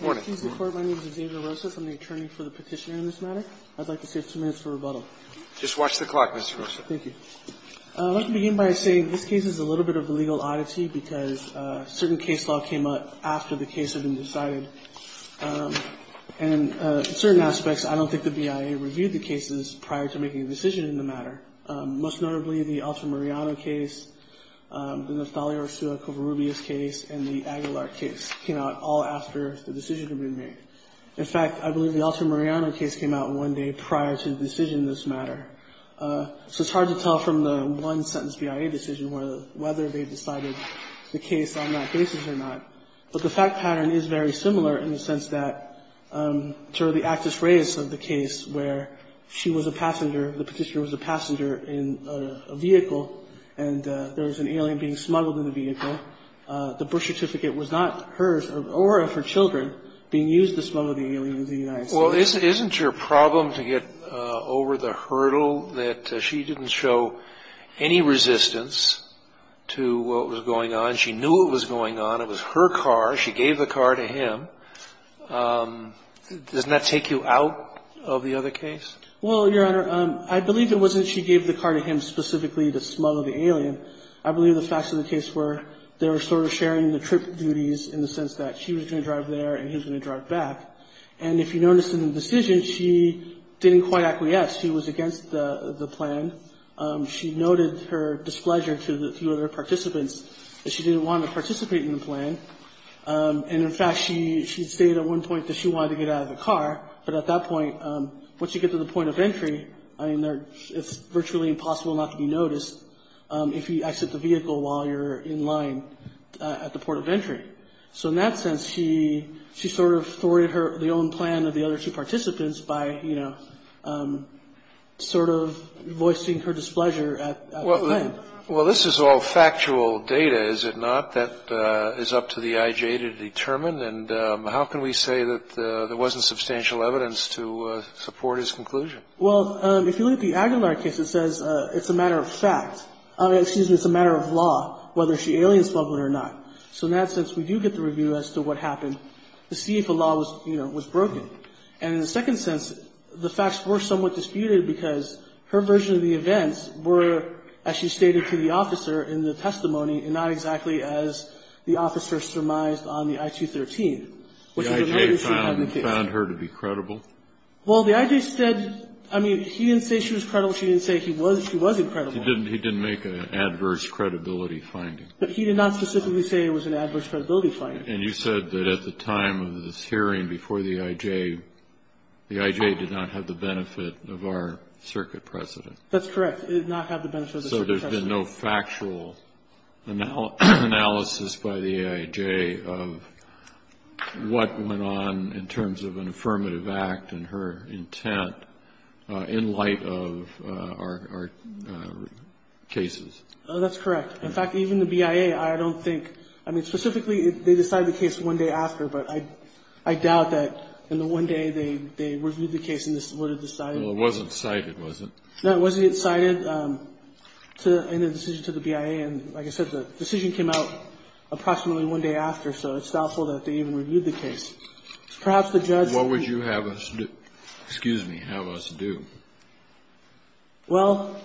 morning. My name is Xavier Rosas. I'm the attorney for the petitioner in this matter. I'd like to say two minutes for rebuttal. Just watch the clock. Thank you. Let's begin by saying this case is a little bit of a legal oddity because certain case law came up after the case had been decided. And certain aspects, I don't think the BIA reviewed the cases prior to making a decision in the matter. Most notably, the Altamirano case, the Natalia Ursula Covarrubias case and the Aguilar case came out all after the decision had been made. In fact, I believe the Altamirano case came out one day prior to the decision in this matter. So it's hard to tell from the one sentence BIA decision whether they decided the case on that basis or not. But the fact pattern is very similar in the sense that to the Actus Reis of the case where she was a passenger, the petitioner was a passenger in a vehicle, and there was an alien being smuggled in the vehicle. The birth certificate was not hers or of her children being used to smuggle the alien into the United States. Well, isn't your problem to get over the hurdle that she didn't show any resistance to what was going on? She knew what was going on. It was her car. She gave the car to him. Doesn't that take you out of the other case? Well, Your Honor, I believe it wasn't she gave the car to him specifically to smuggle the alien. I believe the facts of the case were they were sort of sharing the trip duties in the sense that she was going to drive there and he was going to drive back. And if you notice in the decision, she didn't quite acquiesce. She was against the plan. She noted her displeasure to the other participants that she didn't want to participate in the plan. And in fact, she stated at one point that she wanted to get out of the car. But at that point, once you get to the point of entry, I mean, it's virtually impossible not to be noticed if you exit the vehicle while you're in line at the port of entry. So in that sense, she sort of thwarted the own plan of the other two participants by, you know, sort of voicing her displeasure at the time. Well, this is all factual data, is it not, that is up to the IJ to determine? And how can we say that there wasn't substantial evidence to support his conclusion? Well, if you look at the Aguilar case, it says it's a matter of fact. Excuse me, it's a matter of law whether she alien smuggled it or not. So in that sense, we do get the review as to what happened to see if the law was, you know, was broken. And in a second sense, the facts were somewhat disputed because her version of the events were, as she stated to the officer in the testimony, and not exactly as the officer surmised on the I-213. The IJ found her to be credible? Well, the IJ said, I mean, he didn't say she was credible. She didn't say he was. She was incredible. He didn't make an adverse credibility finding. But he did not specifically say it was an adverse credibility finding. And you said that at the time of this hearing before the IJ, the IJ did not have the benefit of our circuit precedent. That's correct. It did not have the benefit of the circuit precedent. So there's been no factual analysis by the IJ of what went on in terms of an affirmative act and her intent in light of our cases. That's correct. In fact, even the BIA, I don't think, I mean, specifically they decided the case one day after. But I doubt that in the one day they reviewed the case and this would have decided. Well, it wasn't cited, was it? No, it wasn't cited in the decision to the BIA. And like I said, the decision came out approximately one day after. So it's doubtful that they even reviewed the case. Perhaps the judge. What would you have us do? Excuse me. Have us do? Well,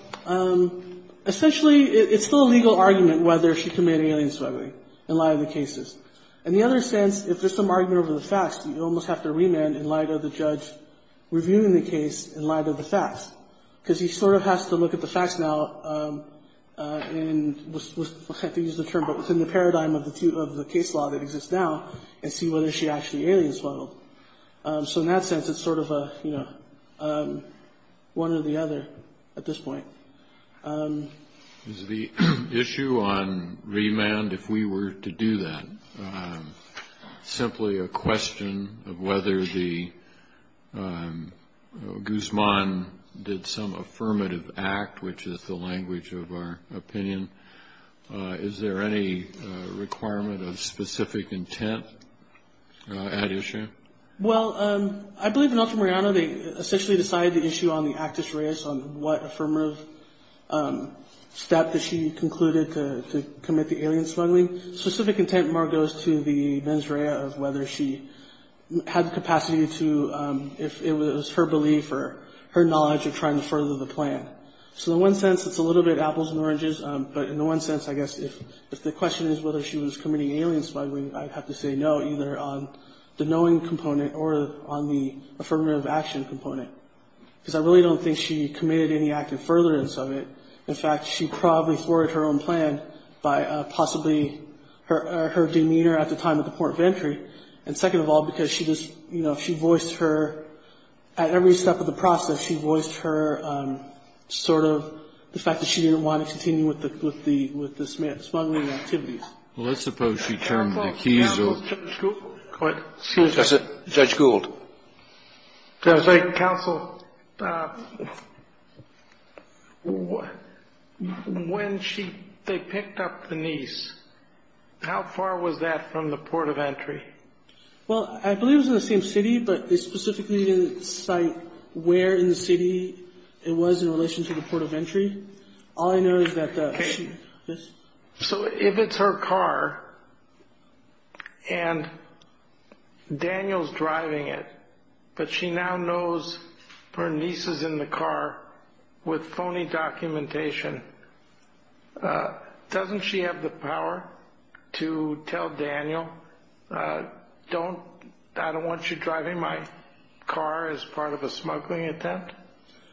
essentially it's still a legal argument whether she committed alien smuggling in light of the cases. In the other sense, if there's some argument over the facts, you almost have to remand in light of the judge reviewing the case in light of the facts. Because he sort of has to look at the facts now and we'll have to use the term, but within the paradigm of the case law that exists now and see whether she actually alien smuggled. So in that sense, it's sort of a, you know, one or the other at this point. The issue on remand, if we were to do that simply a question of whether the Guzman did some affirmative act, which is the language of our opinion. Is there any requirement of specific intent at issue? Well, I believe in ultramariano they essentially decided the issue on the actus reus on what affirmative step that she concluded to commit the alien smuggling. Specific intent more goes to the mens rea of whether she had capacity to, if it was her belief or her knowledge of trying to further the plan. So in one sense, it's a little bit apples and oranges. But in the one sense, I guess, if the question is whether she was committing alien smuggling, I'd have to say no, either on the knowing component or on the affirmative action component. Because I really don't think she committed any active furtherance of it. In fact, she probably forwarded her own plan by possibly her demeanor at the time at the point of entry. And second of all, because she just, you know, she voiced her at every step of the process. She voiced her sort of the fact that she didn't want to continue with the with the with the smuggling activities. Well, let's suppose she turned the keys. Judge Gould. Counsel. When she they picked up the niece, how far was that from the port of entry? Well, I believe it was in the same city, but they specifically didn't cite where in the city it was in relation to the port of entry. All I know is that this. So if it's her car and Daniel's driving it, but she now knows her niece is in the car with phony documentation. Doesn't she have the power to tell Daniel, don't I don't want you driving my car as part of a smuggling attempt?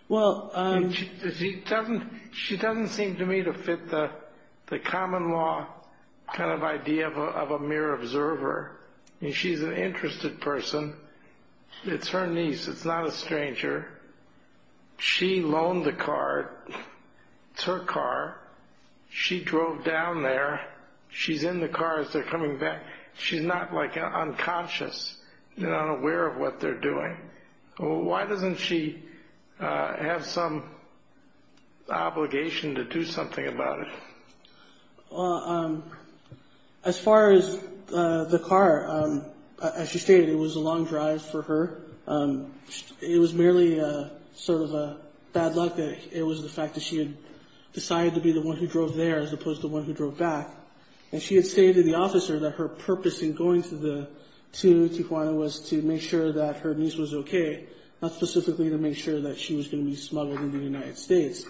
Well, she doesn't. She doesn't seem to me to fit the common law kind of idea of a mere observer. And she's an interested person. It's her niece. It's not a stranger. She loaned the car to her car. She drove down there. She's in the car as they're coming back. She's not like unconscious, not aware of what they're doing. Why doesn't she have some obligation to do something about it? As far as the car, as you stated, it was a long drive for her. It was merely sort of a bad luck that it was the fact that she had decided to be the one who drove there as opposed to the one who drove back. And she had stated to the officer that her purpose in going to Tijuana was to make sure that her niece was okay, not specifically to make sure that she was going to be smuggled into the United States.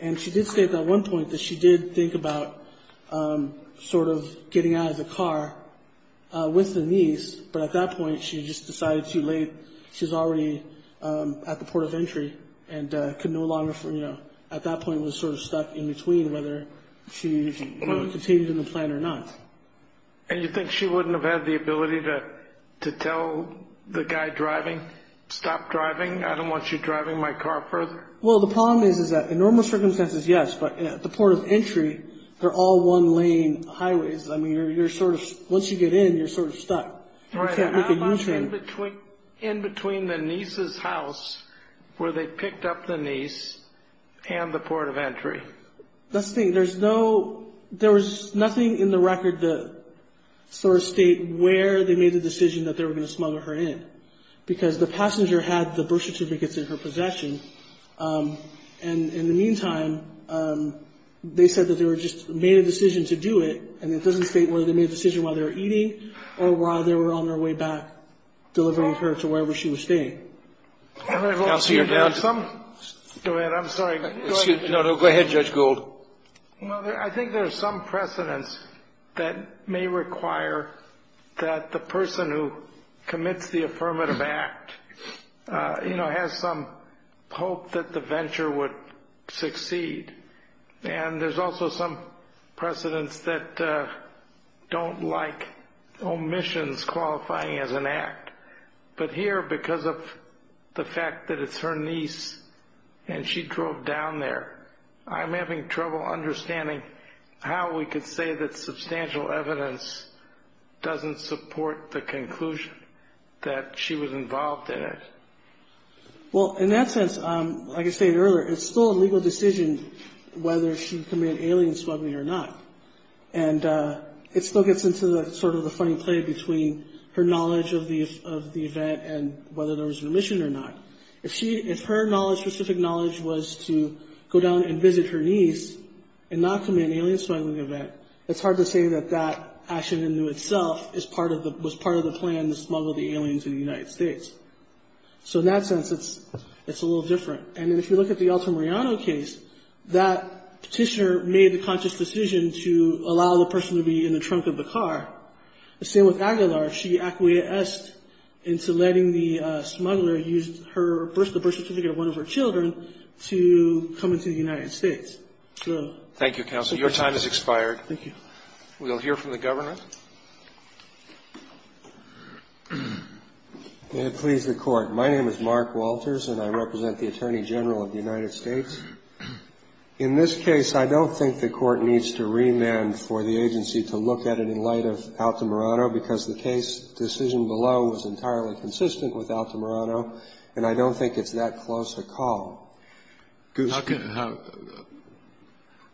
And she did state at one point that she did think about sort of getting out of the car with the niece, but at that point she just decided too late. She was already at the port of entry and could no longer, you know, at that point was sort of stuck in between whether she was contained in the plan or not. And you think she wouldn't have had the ability to tell the guy driving, stop driving? I don't want you driving my car further. Well, the problem is that in normal circumstances, yes, but at the port of entry, they're all one lane highways. I mean, you're sort of, once you get in, you're sort of stuck. You can't make a U-turn. In between the niece's house where they picked up the niece and the port of entry. That's the thing. There was nothing in the record that sort of state where they made the decision that they were going to smuggle her in, because the passenger had the brochure certificates in her possession. And in the meantime, they said that they just made a decision to do it, and it doesn't state whether they made a decision while they were eating or while they were on their way back, delivering her to wherever she was staying. Counsel, you're down. Go ahead. I'm sorry. No, no. Go ahead, Judge Gould. Well, I think there's some precedence that may require that the person who commits the affirmative act, you know, has some hope that the venture would succeed. And there's also some precedence that don't like omissions qualifying as an act. But here, because of the fact that it's her niece and she drove down there, I'm having trouble understanding how we could say that substantial evidence doesn't support the conclusion that she was involved in it. Well, in that sense, like I stated earlier, it's still a legal decision whether she committed alien smuggling or not. And it still gets into sort of the funny play between her knowledge of the event and whether there was an omission or not. If her specific knowledge was to go down and visit her niece and not commit an alien smuggling event, it's hard to say that that action in and of itself was part of the plan to smuggle the aliens into the United States. So in that sense, it's a little different. And if you look at the Altamirano case, that petitioner made the conscious decision to allow the person to be in the trunk of the car. The same with Aguilar. She acquiesced into letting the smuggler use the birth certificate of one of her children to come into the United States. Thank you, Counsel. Your time has expired. Thank you. We'll hear from the Governor. May it please the Court. My name is Mark Walters, and I represent the Attorney General of the United States. In this case, I don't think the Court needs to remand for the agency to look at it in light of Altamirano, because the case decision below was entirely consistent with Altamirano, and I don't think it's that close a call.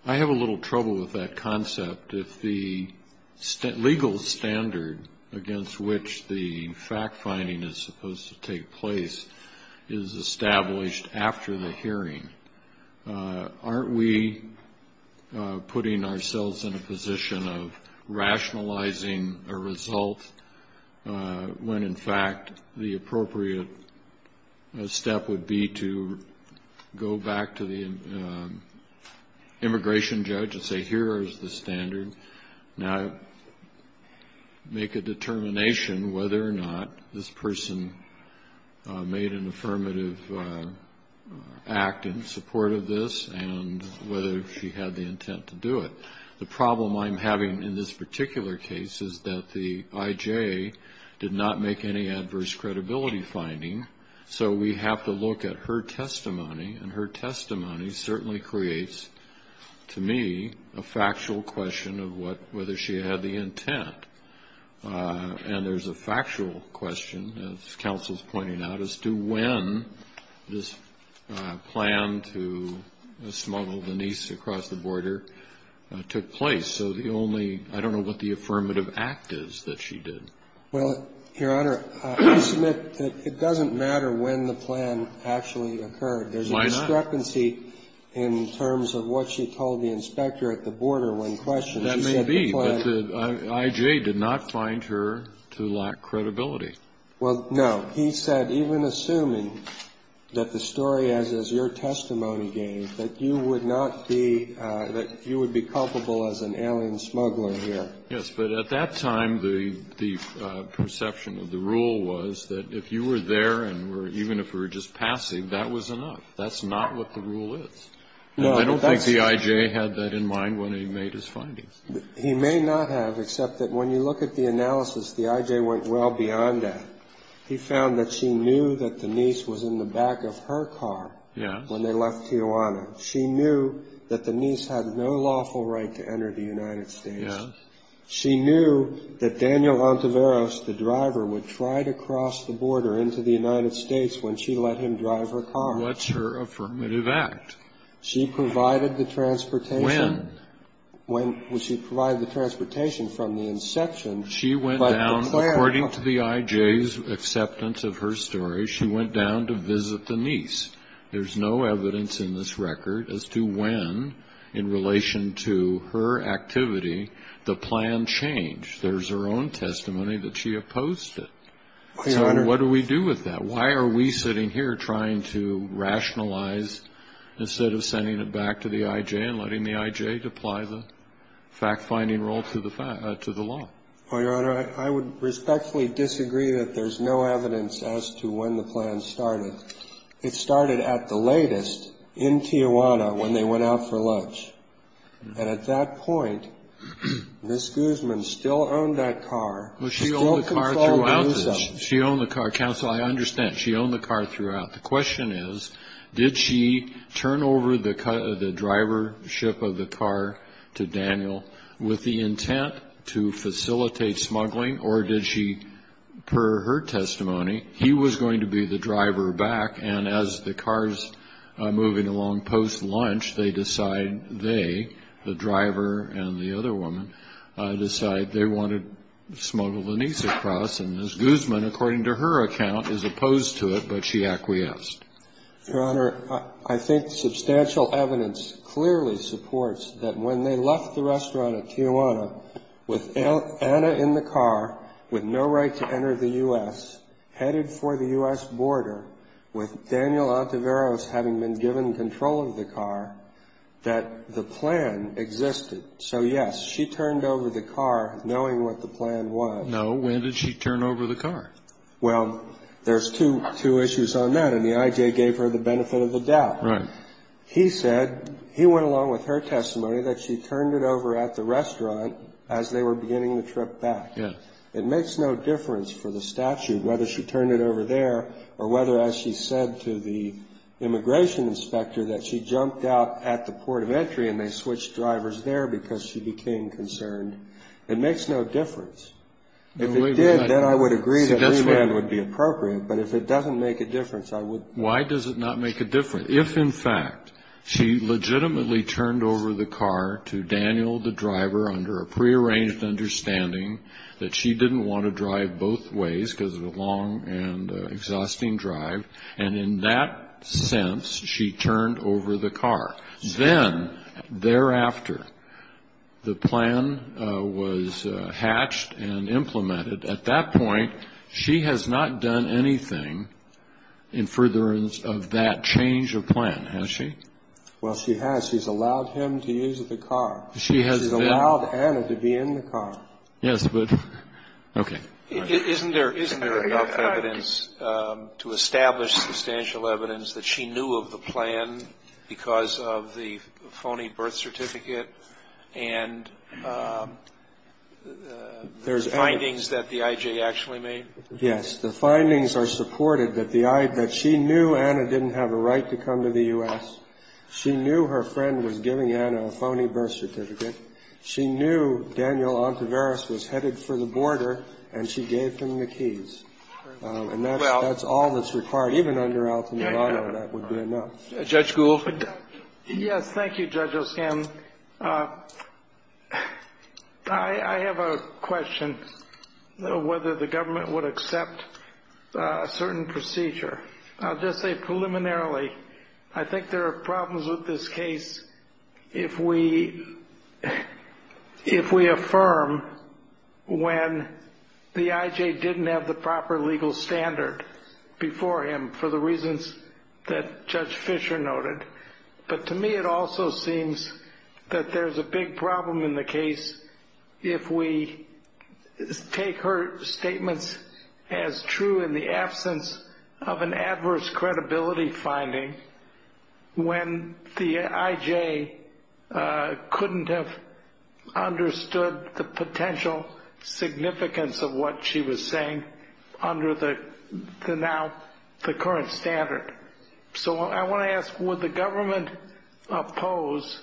I have a little trouble with that concept. If the legal standard against which the fact-finding is supposed to take place is established after the hearing, aren't we putting ourselves in a position of rationalizing a result when, in fact, the appropriate step would be to go back to the immigration judge and say, here is the standard. Now, make a determination whether or not this person made an affirmative act in support of this and whether she had the intent to do it. The problem I'm having in this particular case is that the IJ did not make any adverse credibility finding, so we have to look at her testimony, and her testimony certainly creates, to me, a factual question of whether she had the intent. And there's a factual question, as Counsel is pointing out, as to when this plan to smuggle the niece across the border took place. So the only ‑‑ I don't know what the affirmative act is that she did. Well, Your Honor, I submit that it doesn't matter when the plan actually occurred. Why not? There's a discrepancy in terms of what she told the inspector at the border when questioned. That may be, but the IJ did not find her to lack credibility. Well, no. He said, even assuming that the story as is your testimony gave, that you would not be ‑‑ that you would be culpable as an alien smuggler here. Yes, but at that time, the perception of the rule was that if you were there and were ‑‑ even if you were just passive, that was enough. That's not what the rule is. No, that's ‑‑ And I don't think the IJ had that in mind when he made his findings. He may not have, except that when you look at the analysis, the IJ went well beyond that. He found that she knew that the niece was in the back of her car when they left Tijuana. She knew that the niece had no lawful right to enter the United States. Yes. She knew that Daniel Ontiveros, the driver, would try to cross the border into the United States when she let him drive her car. What's her affirmative act? She provided the transportation. When? When she provided the transportation from the inception. She went down, according to the IJ's acceptance of her story, she went down to visit the niece. There's no evidence in this record as to when, in relation to her activity, the plan changed. There's her own testimony that she opposed it. So what do we do with that? Why are we sitting here trying to rationalize, instead of sending it back to the IJ and letting the IJ apply the fact-finding rule to the law? Your Honor, I would respectfully disagree that there's no evidence as to when the plan started. It started at the latest in Tijuana when they went out for lunch. And at that point, Ms. Guzman still owned that car. She owned the car throughout. She owned the car. Counsel, I understand. She owned the car throughout. The question is, did she turn over the drivership of the car to Daniel with the intent to facilitate smuggling, or did she, per her testimony, he was going to be the driver back, and as the car's moving along post-lunch, they decide they, the driver and the other woman, decide they want to smuggle the niece across. And Ms. Guzman, according to her account, is opposed to it, but she acquiesced. Your Honor, I think substantial evidence clearly supports that when they left the restaurant at Tijuana with Anna in the car, with no right to enter the U.S., headed for the U.S. border, with Daniel Ontiveros having been given control of the car, that the plan existed. So, yes, she turned over the car knowing what the plan was. No, when did she turn over the car? Well, there's two issues on that, and the I.J. gave her the benefit of the doubt. Right. He said, he went along with her testimony, that she turned it over at the restaurant as they were beginning the trip back. Yes. It makes no difference for the statute whether she turned it over there or whether, as she said to the immigration inspector, that she jumped out at the port of entry and they switched drivers there because she became concerned. It makes no difference. If it did, then I would agree that remand would be appropriate. But if it doesn't make a difference, I would. Why does it not make a difference? If, in fact, she legitimately turned over the car to Daniel, the driver, under a prearranged understanding that she didn't want to drive both ways because it was a long and exhausting drive, and in that sense she turned over the car. Then, thereafter, the plan was hatched and implemented. At that point, she has not done anything in furtherance of that change of plan, has she? Well, she has. She's allowed him to use the car. She has. She's allowed Anna to be in the car. Yes, but, okay. Isn't there enough evidence to establish substantial evidence that she knew of the plan because of the phony birth certificate and the findings that the I.J. actually made? Yes. The findings are supported that she knew Anna didn't have a right to come to the U.S. She knew her friend was giving Anna a phony birth certificate. She knew Daniel Ontiveros was headed for the border, and she gave him the keys. And that's all that's required. Even under Alton Bono, that would be enough. Judge Gould. Yes, thank you, Judge Oskam. I have a question of whether the government would accept a certain procedure. I'll just say preliminarily I think there are problems with this case if we affirm when the I.J. didn't have the proper legal standard before him for the reasons that Judge Fisher noted. But to me it also seems that there's a big problem in the case if we take her statements as true in the absence of an adverse credibility finding when the I.J. couldn't have understood the potential significance of what she was saying under now the current standard. So I want to ask would the government oppose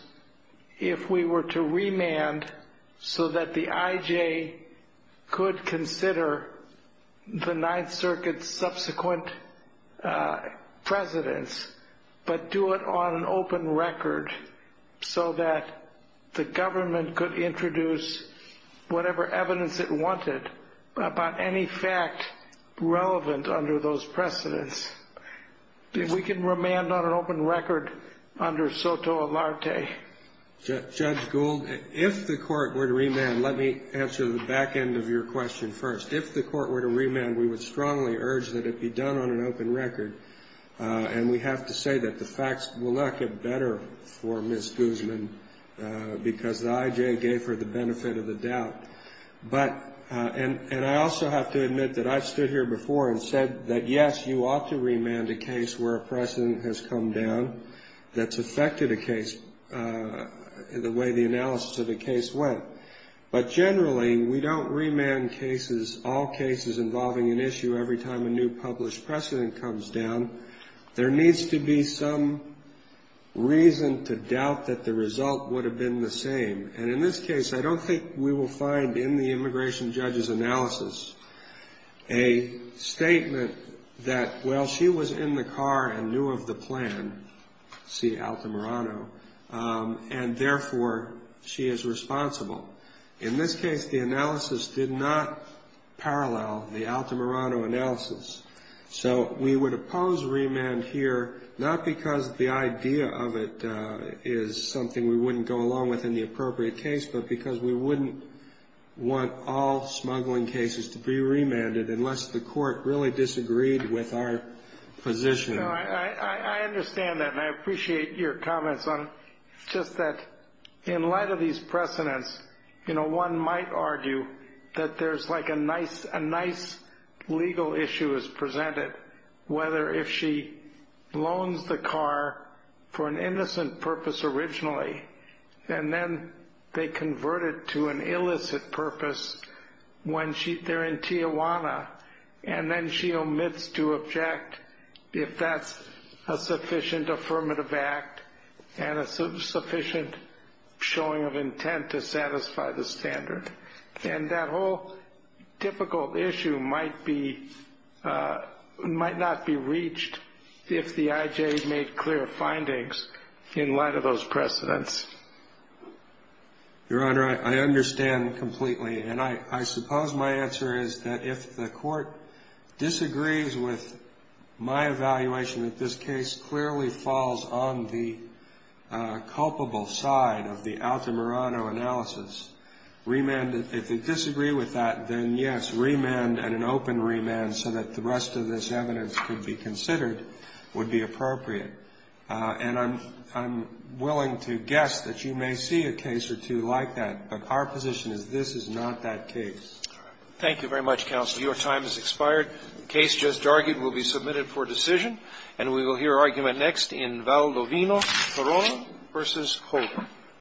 if we were to remand so that the I.J. could consider the Ninth Circuit's subsequent precedence, but do it on an open record so that the government could introduce whatever evidence it wanted about any fact relevant under those precedence. If we can remand on an open record under SOTO and LARTE. Judge Gould, if the court were to remand, let me answer the back end of your question first. If the court were to remand, we would strongly urge that it be done on an open record. And we have to say that the facts will not get better for Ms. Guzman because the I.J. gave her the benefit of the doubt. But and I also have to admit that I've stood here before and said that, yes, you ought to remand a case where a precedent has come down that's affected a case the way the analysis of the case went. But generally, we don't remand cases, all cases involving an issue every time a new published precedent comes down. There needs to be some reason to doubt that the result would have been the same. And in this case, I don't think we will find in the immigration judge's analysis a statement that, well, she was in the car and knew of the plan, see Altamirano, and therefore she is responsible. In this case, the analysis did not parallel the Altamirano analysis. So we would oppose remand here, not because the idea of it is something we wouldn't go along with in the appropriate case, but because we wouldn't want all smuggling cases to be remanded unless the court really disagreed with our position. I understand that. And I appreciate your comments on just that. In light of these precedents, you know, one might argue that there's like a nice a nice legal issue is presented, whether if she loans the car for an innocent purpose originally, and then they convert it to an illicit purpose when they're in Tijuana, and then she omits to object if that's a sufficient affirmative act and a sufficient showing of intent to satisfy the standard. And that whole difficult issue might be might not be reached if the IJ made clear findings in light of those precedents. Your Honor, I understand completely. And I suppose my answer is that if the court disagrees with my evaluation, that this case clearly falls on the culpable side of the Altamirano analysis. Remand, if they disagree with that, then yes, remand and an open remand so that the rest of this evidence could be considered would be appropriate. And I'm willing to guess that you may see a case or two like that. But our position is this is not that case. Thank you very much, counsel. Your time has expired. The case just argued will be submitted for decision. And we will hear argument next in Valdovino, Corona v. Colton.